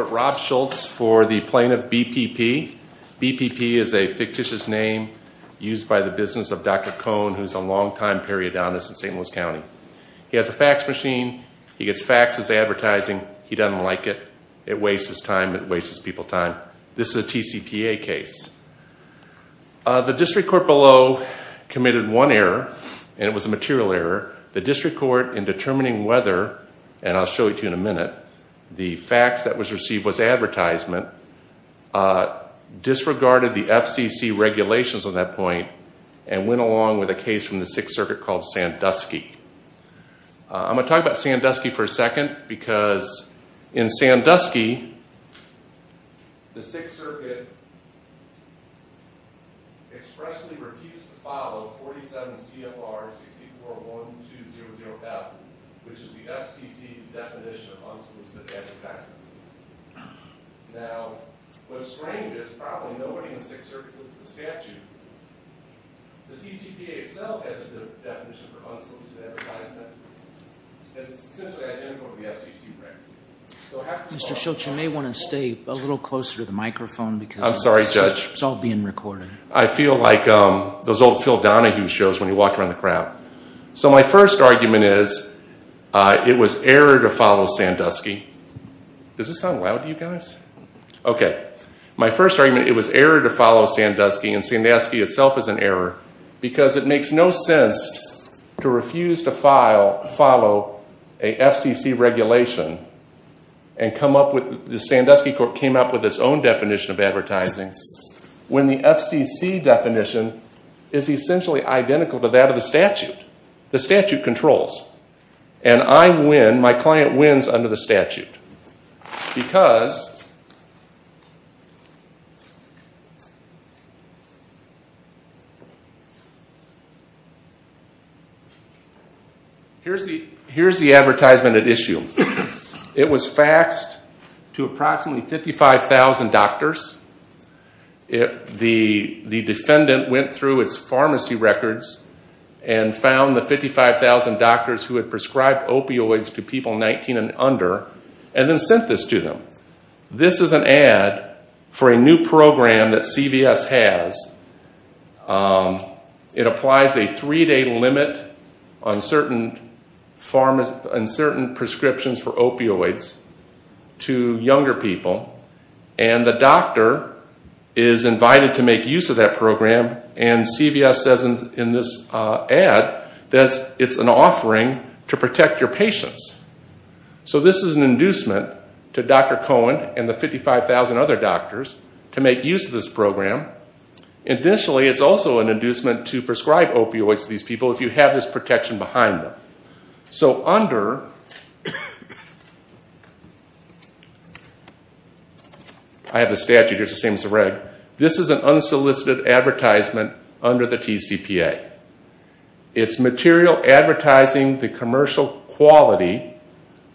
Rob Schultz for the plaintiff BPP. BPP is a fictitious name used by the business of Dr. Cohn, who's a longtime periodonist in St. Louis County. He has a fax machine. He gets faxes advertising. He doesn't like it. It wastes his time. It wastes people's time. This is a TCPA case. The district court below committed one error, and it was a material error. The district court, in determining whether, and I'll show it to you in a minute, the fax that was received was advertisement, disregarded the FCC regulations on that point, and went along with a case from the Sixth Circuit called Sandusky. I'm going to talk about Sandusky for a second, because in Sandusky, the Sixth Circuit expressly refused to follow 47 CFR 64-1200F, which is the FCC's definition of unsolicited advertising. Now, what's strange is probably nobody in the Sixth Circuit would look at the statute. The TCPA itself has a good definition for unsolicited advertisement. It's essentially identical to the FCC regulation. Mr. Schultz, you may want to stay a little closer to the microphone, because it's all being recorded. I feel like those old Phil Donahue shows when he walked around the crowd. My first argument is, it was error to follow Sandusky, and Sandusky itself is an error, because it makes no sense to refuse to follow a FCC regulation, and the Sandusky court came up with its own definition of advertising, when the FCC definition is essentially identical to that of the statute. The statute controls, and I win, my client wins under the statute. Here's the advertisement at issue. It was faxed to approximately 55,000 doctors. The defendant went through its pharmacy records and found the 55,000 doctors who had prescribed opioids to people 19 and under, and then sent this to them. This is an ad for a new program that CVS has. It applies a three-day limit on certain prescriptions for opioids to younger people, and the doctor is invited to make use of that program, and CVS says in this ad that it's an offering to protect your patients. So this is an inducement to Dr. Cohen and the 55,000 other doctors to make use of this program. Additionally, it's also an inducement to prescribe opioids to these people if you have this protection behind them. So under, I have the statute here, it's the same as the reg. This is an unsolicited advertisement under the TCPA. It's material advertising the commercial quality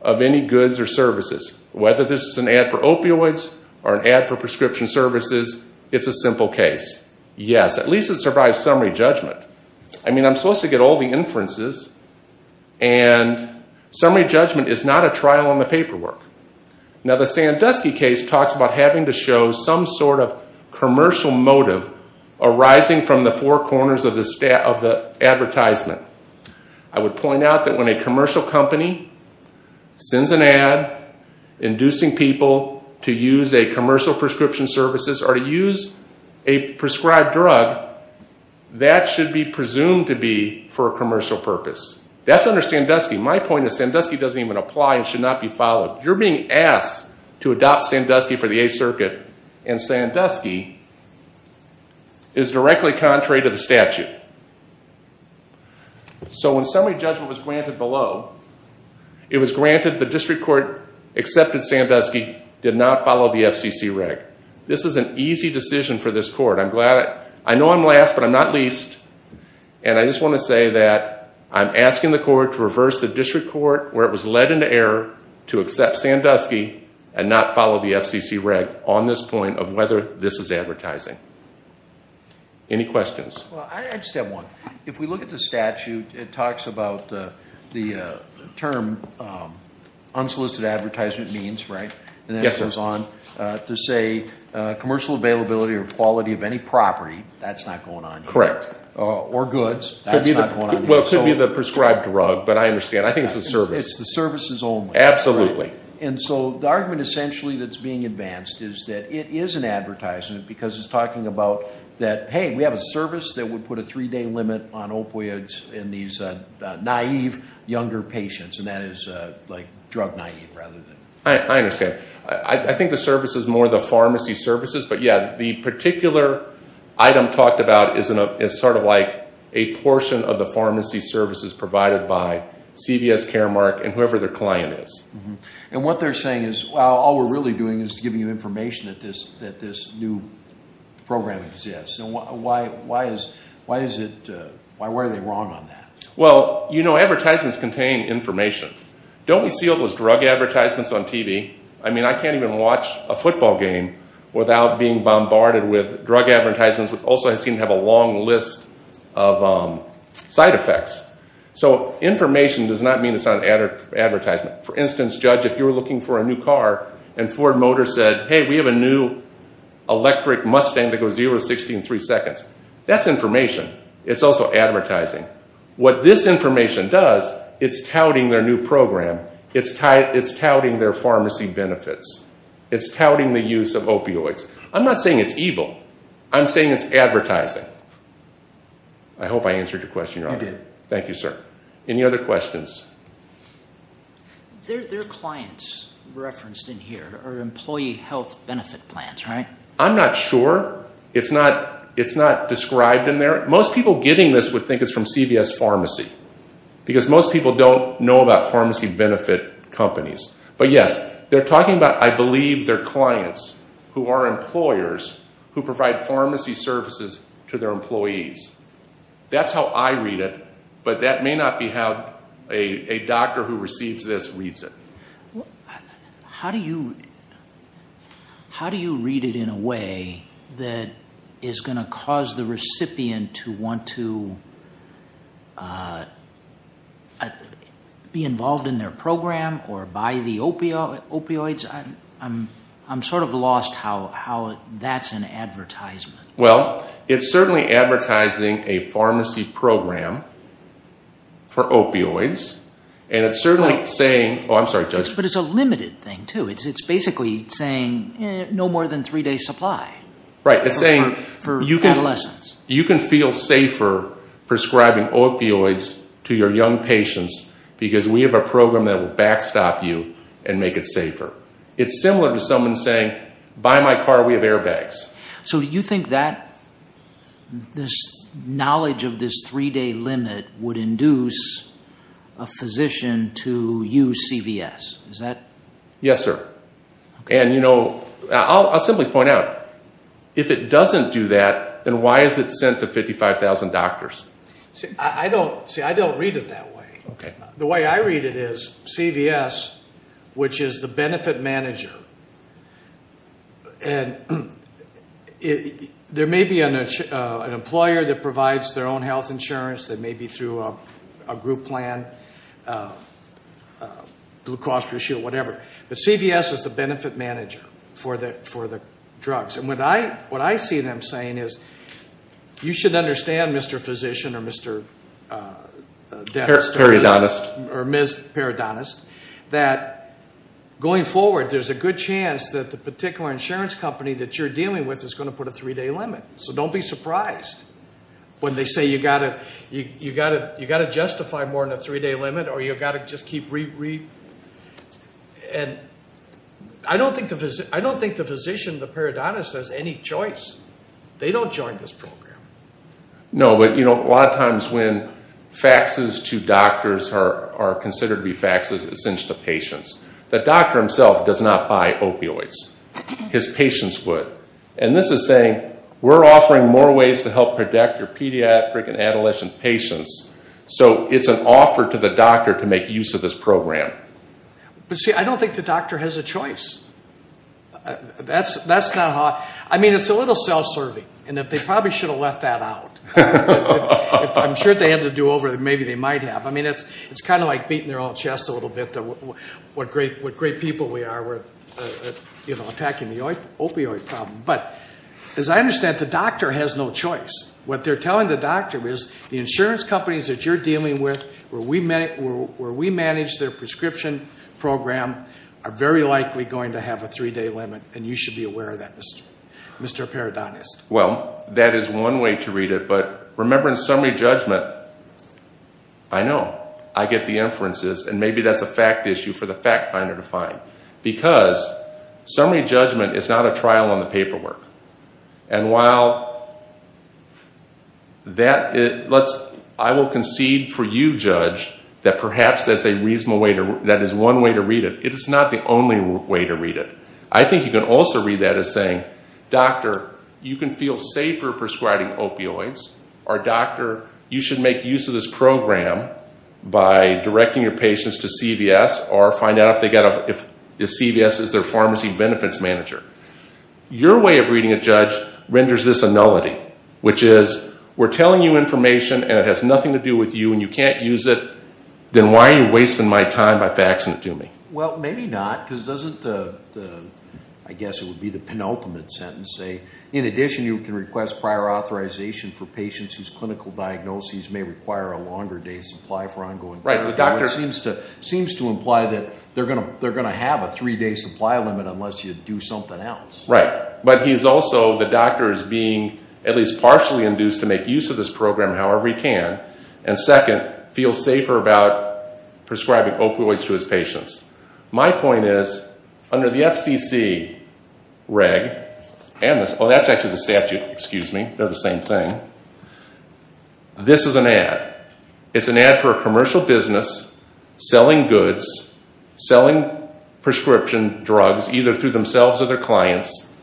of any goods or services. Whether this is an ad for opioids or an ad for prescription services, it's a simple case. Yes, at least it survives summary judgment. I mean, I'm supposed to get all the inferences, and summary judgment is not a trial on the paperwork. Now, the Sandusky case talks about having to show some sort of commercial motive arising from the four corners of the advertisement. I would point out that when a commercial company sends an ad inducing people to use a commercial prescription services or to use a prescribed drug, that should be presumed to be for a commercial purpose. That's under Sandusky. My point is Sandusky doesn't even apply and should not be followed. You're being asked to adopt Sandusky for the Eighth Circuit, and Sandusky is directly contrary to the statute. So when summary judgment was granted below, it was granted the district court accepted Sandusky, did not follow the FCC reg. This is an easy decision for this court. I know I'm last, but I'm not least. And I just want to say that I'm asking the court to reverse the district court where it was led into error to accept Sandusky and not follow the FCC reg on this point of whether this is advertising. Any questions? Well, I just have one. If we look at the statute, it talks about the term unsolicited advertisement means, right? Yes, sir. To say commercial availability or quality of any property, that's not going on here. Correct. Or goods, that's not going on here. Well, it could be the prescribed drug, but I understand. I think it's the service. It's the services only. Absolutely. And so the argument essentially that's being advanced is that it is an advertisement because it's talking about that, hey, we have a service that would put a three-day limit on opioids in these naive younger patients, and that is like drug naive rather than. I understand. I think the service is more the pharmacy services. But, yeah, the particular item talked about is sort of like a portion of the pharmacy services provided by CVS, Caremark, and whoever their client is. And what they're saying is, well, all we're really doing is giving you information that this new program exists. Why are they wrong on that? Well, you know, advertisements contain information. Don't we see all those drug advertisements on TV? I mean, I can't even watch a football game without being bombarded with drug advertisements, which also seem to have a long list of side effects. So information does not mean it's not an advertisement. For instance, Judge, if you were looking for a new car and Ford Motor said, hey, we have a new electric Mustang that goes 0 to 60 in three seconds, that's information. It's also advertising. What this information does, it's touting their new program. It's touting their pharmacy benefits. It's touting the use of opioids. I'm not saying it's evil. I'm saying it's advertising. I hope I answered your question, Your Honor. You did. Thank you, sir. Any other questions? Their clients referenced in here are employee health benefit plans, right? I'm not sure. It's not described in there. Most people getting this would think it's from CVS Pharmacy, because most people don't know about pharmacy benefit companies. But, yes, they're talking about, I believe, their clients who are employers who provide pharmacy services to their employees. That's how I read it, but that may not be how a doctor who receives this reads it. How do you read it in a way that is going to cause the recipient to want to be involved in their program or buy the opioids? I'm sort of lost how that's an advertisement. Well, it's certainly advertising a pharmacy program for opioids. And it's certainly saying, oh, I'm sorry, Judge. But it's a limited thing, too. It's basically saying no more than three-day supply for adolescents. You can feel safer prescribing opioids to your young patients because we have a program that will backstop you and make it safer. It's similar to someone saying, buy my car, we have airbags. So you think this knowledge of this three-day limit would induce a physician to use CVS? Yes, sir. And I'll simply point out, if it doesn't do that, then why is it sent to 55,000 doctors? See, I don't read it that way. The way I read it is CVS, which is the benefit manager, and there may be an employer that provides their own health insurance. They may be through a group plan, Blue Cross Blue Shield, whatever. But CVS is the benefit manager for the drugs. And what I see them saying is, you should understand, Mr. Physician or Mr. Parodontist, or Ms. Parodontist, that going forward there's a good chance that the particular insurance company that you're dealing with is going to put a three-day limit. So don't be surprised when they say you've got to justify more than a three-day limit or you've got to just keep re-re. And I don't think the physician, the parodontist, has any choice. They don't join this program. No, but a lot of times when faxes to doctors are considered to be faxes, it's sent to patients. The doctor himself does not buy opioids. His patients would. And this is saying, we're offering more ways to help protect your pediatric and adolescent patients. So it's an offer to the doctor to make use of this program. But see, I don't think the doctor has a choice. That's not how – I mean, it's a little self-serving. And they probably should have left that out. I'm sure if they had to do over, maybe they might have. I mean, it's kind of like beating their own chest a little bit, what great people we are. We're attacking the opioid problem. But as I understand it, the doctor has no choice. What they're telling the doctor is the insurance companies that you're dealing with, where we manage their prescription program, are very likely going to have a three-day limit, and you should be aware of that, Mr. Paradonis. Well, that is one way to read it. But remember in summary judgment, I know, I get the inferences, and maybe that's a fact issue for the fact finder to find. Because summary judgment is not a trial on the paperwork. And while I will concede for you, Judge, that perhaps that is one way to read it, it is not the only way to read it. I think you can also read that as saying, doctor, you can feel safer prescribing opioids, or doctor, you should make use of this program by directing your patients to CVS or find out if CVS is their pharmacy benefits manager. Your way of reading it, Judge, renders this a nullity, which is we're telling you information and it has nothing to do with you and you can't use it, then why are you wasting my time by faxing it to me? Well, maybe not, because doesn't the, I guess it would be the penultimate sentence say, in addition you can request prior authorization for patients whose clinical diagnoses may require a longer day supply for ongoing care. Right. The doctor seems to imply that they're going to have a three-day supply limit unless you do something else. Right. But he's also, the doctor is being at least partially induced to make use of this program however he can, and second, feel safer about prescribing opioids to his patients. My point is, under the FCC reg, and this, oh, that's actually the statute, excuse me. They're the same thing. This is an ad. It's an ad for a commercial business selling goods, selling prescription drugs, either through themselves or their clients,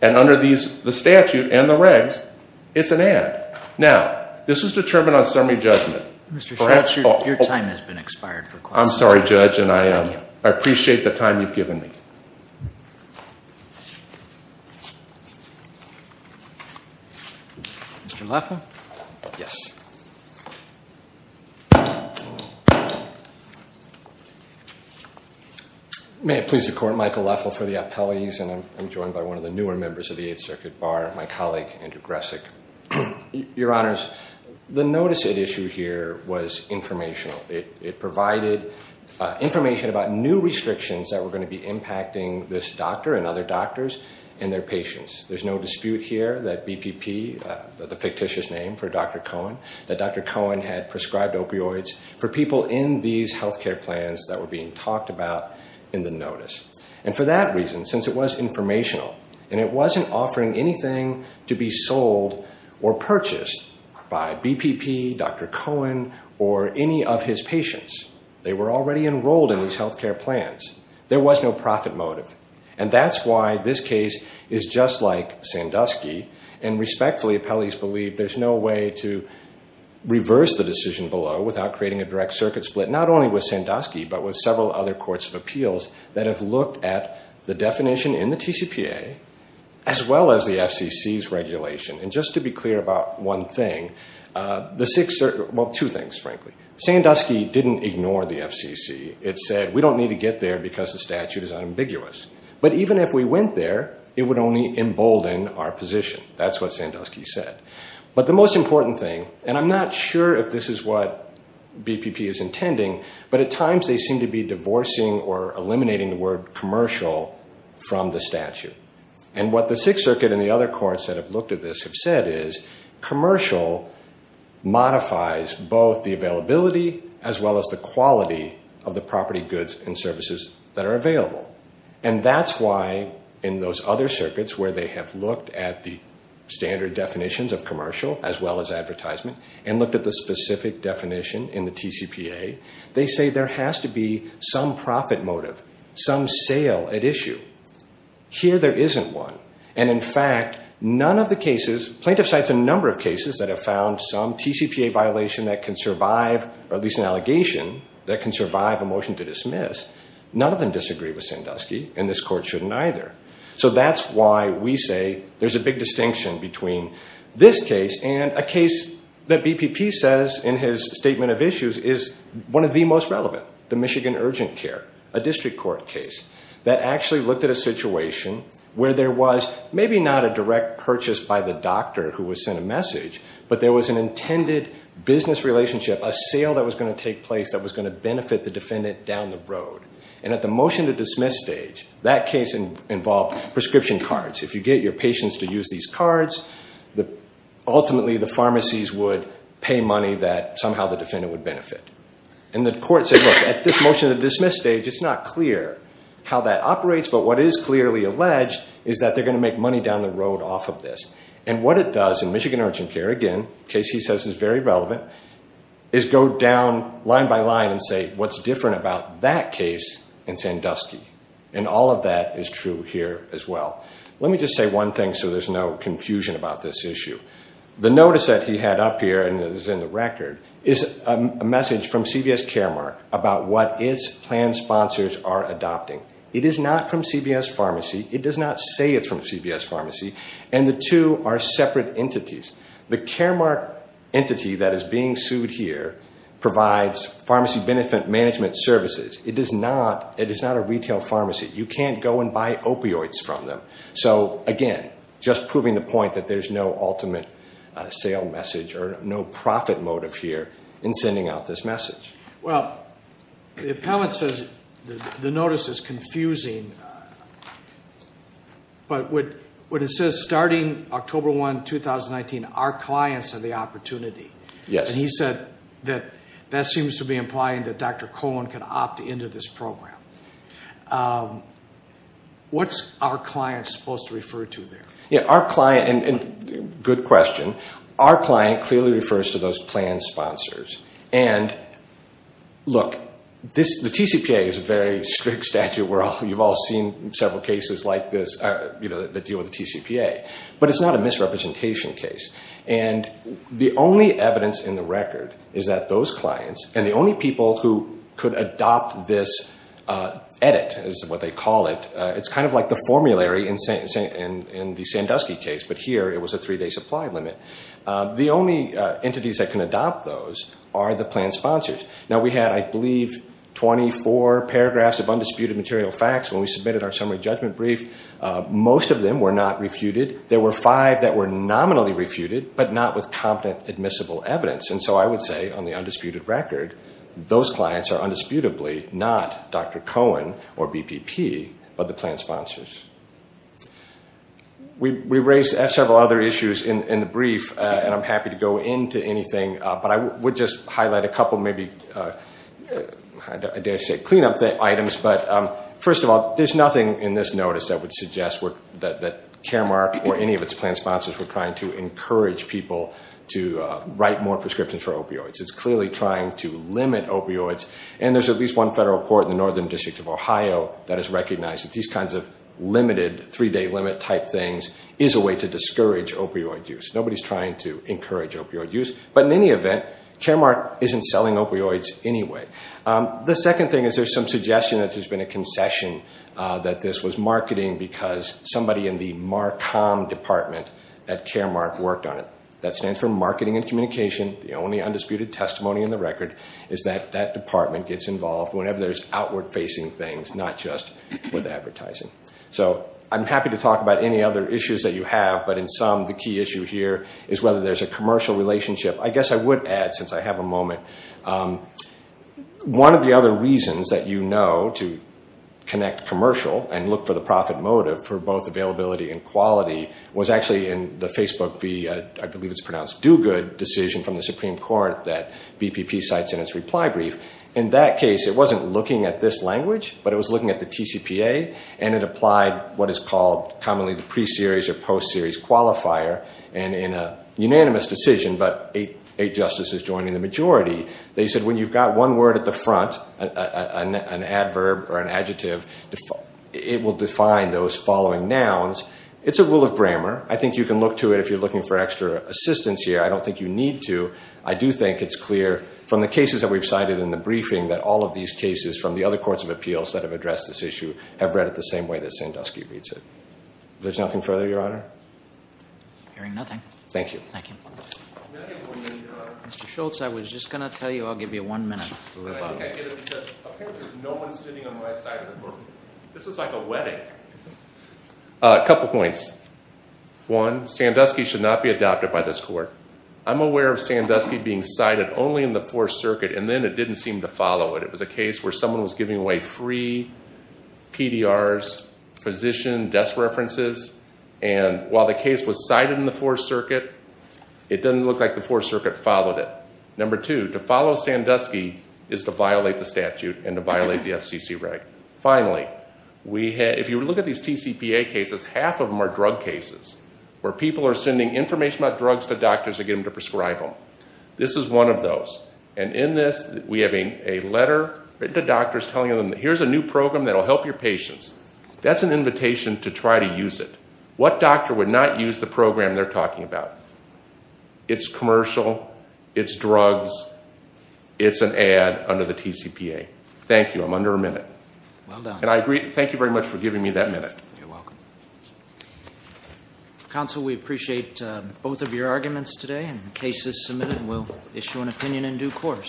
and under these, the statute and the regs, it's an ad. Now, this was determined on summary judgment. Mr. Schultz, your time has been expired for questions. I'm sorry, Judge, and I appreciate the time you've given me. Mr. Leffel? Yes. May it please the Court, Michael Leffel for the appellees, and I'm joined by one of the newer members of the Eighth Circuit Bar, my colleague Andrew Gresick. Your Honors, the notice at issue here was informational. It provided information about new restrictions that were going to be impacting this doctor and other doctors and their patients. There's no dispute here that BPP, the fictitious name for Dr. Cohen, that Dr. Cohen had prescribed opioids for people in these health care plans that were being talked about in the notice. And for that reason, since it was informational and it wasn't offering anything to be sold or purchased by BPP, Dr. Cohen, or any of his patients, they were already enrolled in these health care plans, there was no profit motive. And that's why this case is just like Sandusky, and respectfully appellees believe there's no way to reverse the decision below without creating a direct circuit split, not only with Sandusky, but with several other courts of appeals that have looked at the definition in the TCPA as well as the FCC's regulation. And just to be clear about one thing, well, two things, frankly. Sandusky didn't ignore the FCC. It said we don't need to get there because the statute is unambiguous. But even if we went there, it would only embolden our position. That's what Sandusky said. But the most important thing, and I'm not sure if this is what BPP is intending, but at times they seem to be divorcing or eliminating the word commercial from the statute. And what the Sixth Circuit and the other courts that have looked at this have said is commercial modifies both the availability as well as the quality of the property, goods, and services that are available. And that's why in those other circuits where they have looked at the standard definitions of commercial as well as advertisement and looked at the specific definition in the TCPA, they say there has to be some profit motive, some sale at issue. Here there isn't one. And in fact, none of the cases, plaintiff cites a number of cases that have found some TCPA violation that can survive, or at least an allegation that can survive a motion to dismiss. None of them disagree with Sandusky, and this court shouldn't either. So that's why we say there's a big distinction between this case and a case that BPP says in his statement of issues is one of the most relevant. The Michigan Urgent Care, a district court case that actually looked at a situation where there was maybe not a direct purchase by the doctor who was sent a message, but there was an intended business relationship, a sale that was going to take place that was going to benefit the defendant down the road. And at the motion to dismiss stage, that case involved prescription cards. If you get your patients to use these cards, ultimately the pharmacies would pay money that somehow the defendant would benefit. And the court said, look, at this motion to dismiss stage, it's not clear how that operates, but what is clearly alleged is that they're going to make money down the road off of this. And what it does in Michigan Urgent Care, again, a case he says is very relevant, is go down line by line and say what's different about that case and Sandusky. And all of that is true here as well. Let me just say one thing so there's no confusion about this issue. The notice that he had up here, and it is in the record, is a message from CVS Caremark about what its plan sponsors are adopting. It is not from CVS Pharmacy. It does not say it's from CVS Pharmacy. And the two are separate entities. The Caremark entity that is being sued here provides pharmacy benefit management services. It is not a retail pharmacy. You can't go and buy opioids from them. So, again, just proving the point that there's no ultimate sale message or no profit motive here in sending out this message. Well, the appellant says the notice is confusing, but what it says, starting October 1, 2019, our clients are the opportunity. Yes. And he said that that seems to be implying that Dr. Cohen can opt into this program. What's our client supposed to refer to there? Our client, and good question, our client clearly refers to those plan sponsors. And, look, the TCPA is a very strict statute. You've all seen several cases like this that deal with the TCPA. But it's not a misrepresentation case. And the only evidence in the record is that those clients and the only people who could adopt this edit is what they call it. It's kind of like the formulary in the Sandusky case, but here it was a three-day supply limit. The only entities that can adopt those are the plan sponsors. Now, we had, I believe, 24 paragraphs of undisputed material facts when we submitted our summary judgment brief. Most of them were not refuted. There were five that were nominally refuted, but not with competent admissible evidence. And so I would say, on the undisputed record, those clients are undisputably not Dr. Cohen or BPP, but the plan sponsors. We raised several other issues in the brief, and I'm happy to go into anything, but I would just highlight a couple maybe, I dare say, cleanup items. But first of all, there's nothing in this notice that would suggest that Caremark or any of its plan sponsors were trying to encourage people to write more prescriptions for opioids. It's clearly trying to limit opioids. And there's at least one federal court in the Northern District of Ohio that has recognized that these kinds of limited three-day limit type things is a way to discourage opioid use. Nobody's trying to encourage opioid use. But in any event, Caremark isn't selling opioids anyway. The second thing is there's some suggestion that there's been a concession that this was marketing because somebody in the MARCOM department at Caremark worked on it. That stands for Marketing and Communication. The only undisputed testimony in the record is that that department gets involved whenever there's outward-facing things, not just with advertising. So I'm happy to talk about any other issues that you have, but in sum, the key issue here is whether there's a commercial relationship. I guess I would add, since I have a moment, one of the other reasons that you know to connect commercial and look for the profit motive for both availability and quality was actually in the Facebook, I believe it's pronounced, do-good decision from the Supreme Court that BPP cites in its reply brief. In that case, it wasn't looking at this language, but it was looking at the TCPA, and it applied what is called commonly the pre-series or post-series qualifier. And in a unanimous decision, but eight justices joining the majority, they said when you've got one word at the front, an adverb or an adjective, it will define those following nouns. It's a rule of grammar. I think you can look to it if you're looking for extra assistance here. I don't think you need to. I do think it's clear from the cases that we've cited in the briefing that all of these cases from the other courts of appeals that have addressed this issue have read it the same way that Sandusky reads it. There's nothing further, Your Honor? Hearing nothing. Thank you. Thank you. Mr. Schultz, I was just going to tell you, I'll give you one minute. Apparently there's no one sitting on my side of the room. This is like a wedding. A couple points. One, Sandusky should not be adopted by this court. I'm aware of Sandusky being cited only in the Fourth Circuit, and then it didn't seem to follow it. It was a case where someone was giving away free PDRs, physician desk references, and while the case was cited in the Fourth Circuit, it doesn't look like the Fourth Circuit followed it. Number two, to follow Sandusky is to violate the statute and to violate the FCC reg. Finally, if you look at these TCPA cases, half of them are drug cases where people are sending information about drugs to doctors to get them to prescribe them. This is one of those. And in this, we have a letter written to doctors telling them, here's a new program that will help your patients. That's an invitation to try to use it. What doctor would not use the program they're talking about? It's commercial. It's drugs. It's an ad under the TCPA. Thank you. I'm under a minute. Well done. And I agree. Thank you very much for giving me that minute. You're welcome. Counsel, we appreciate both of your arguments today and the cases submitted, and we'll issue an opinion in due course.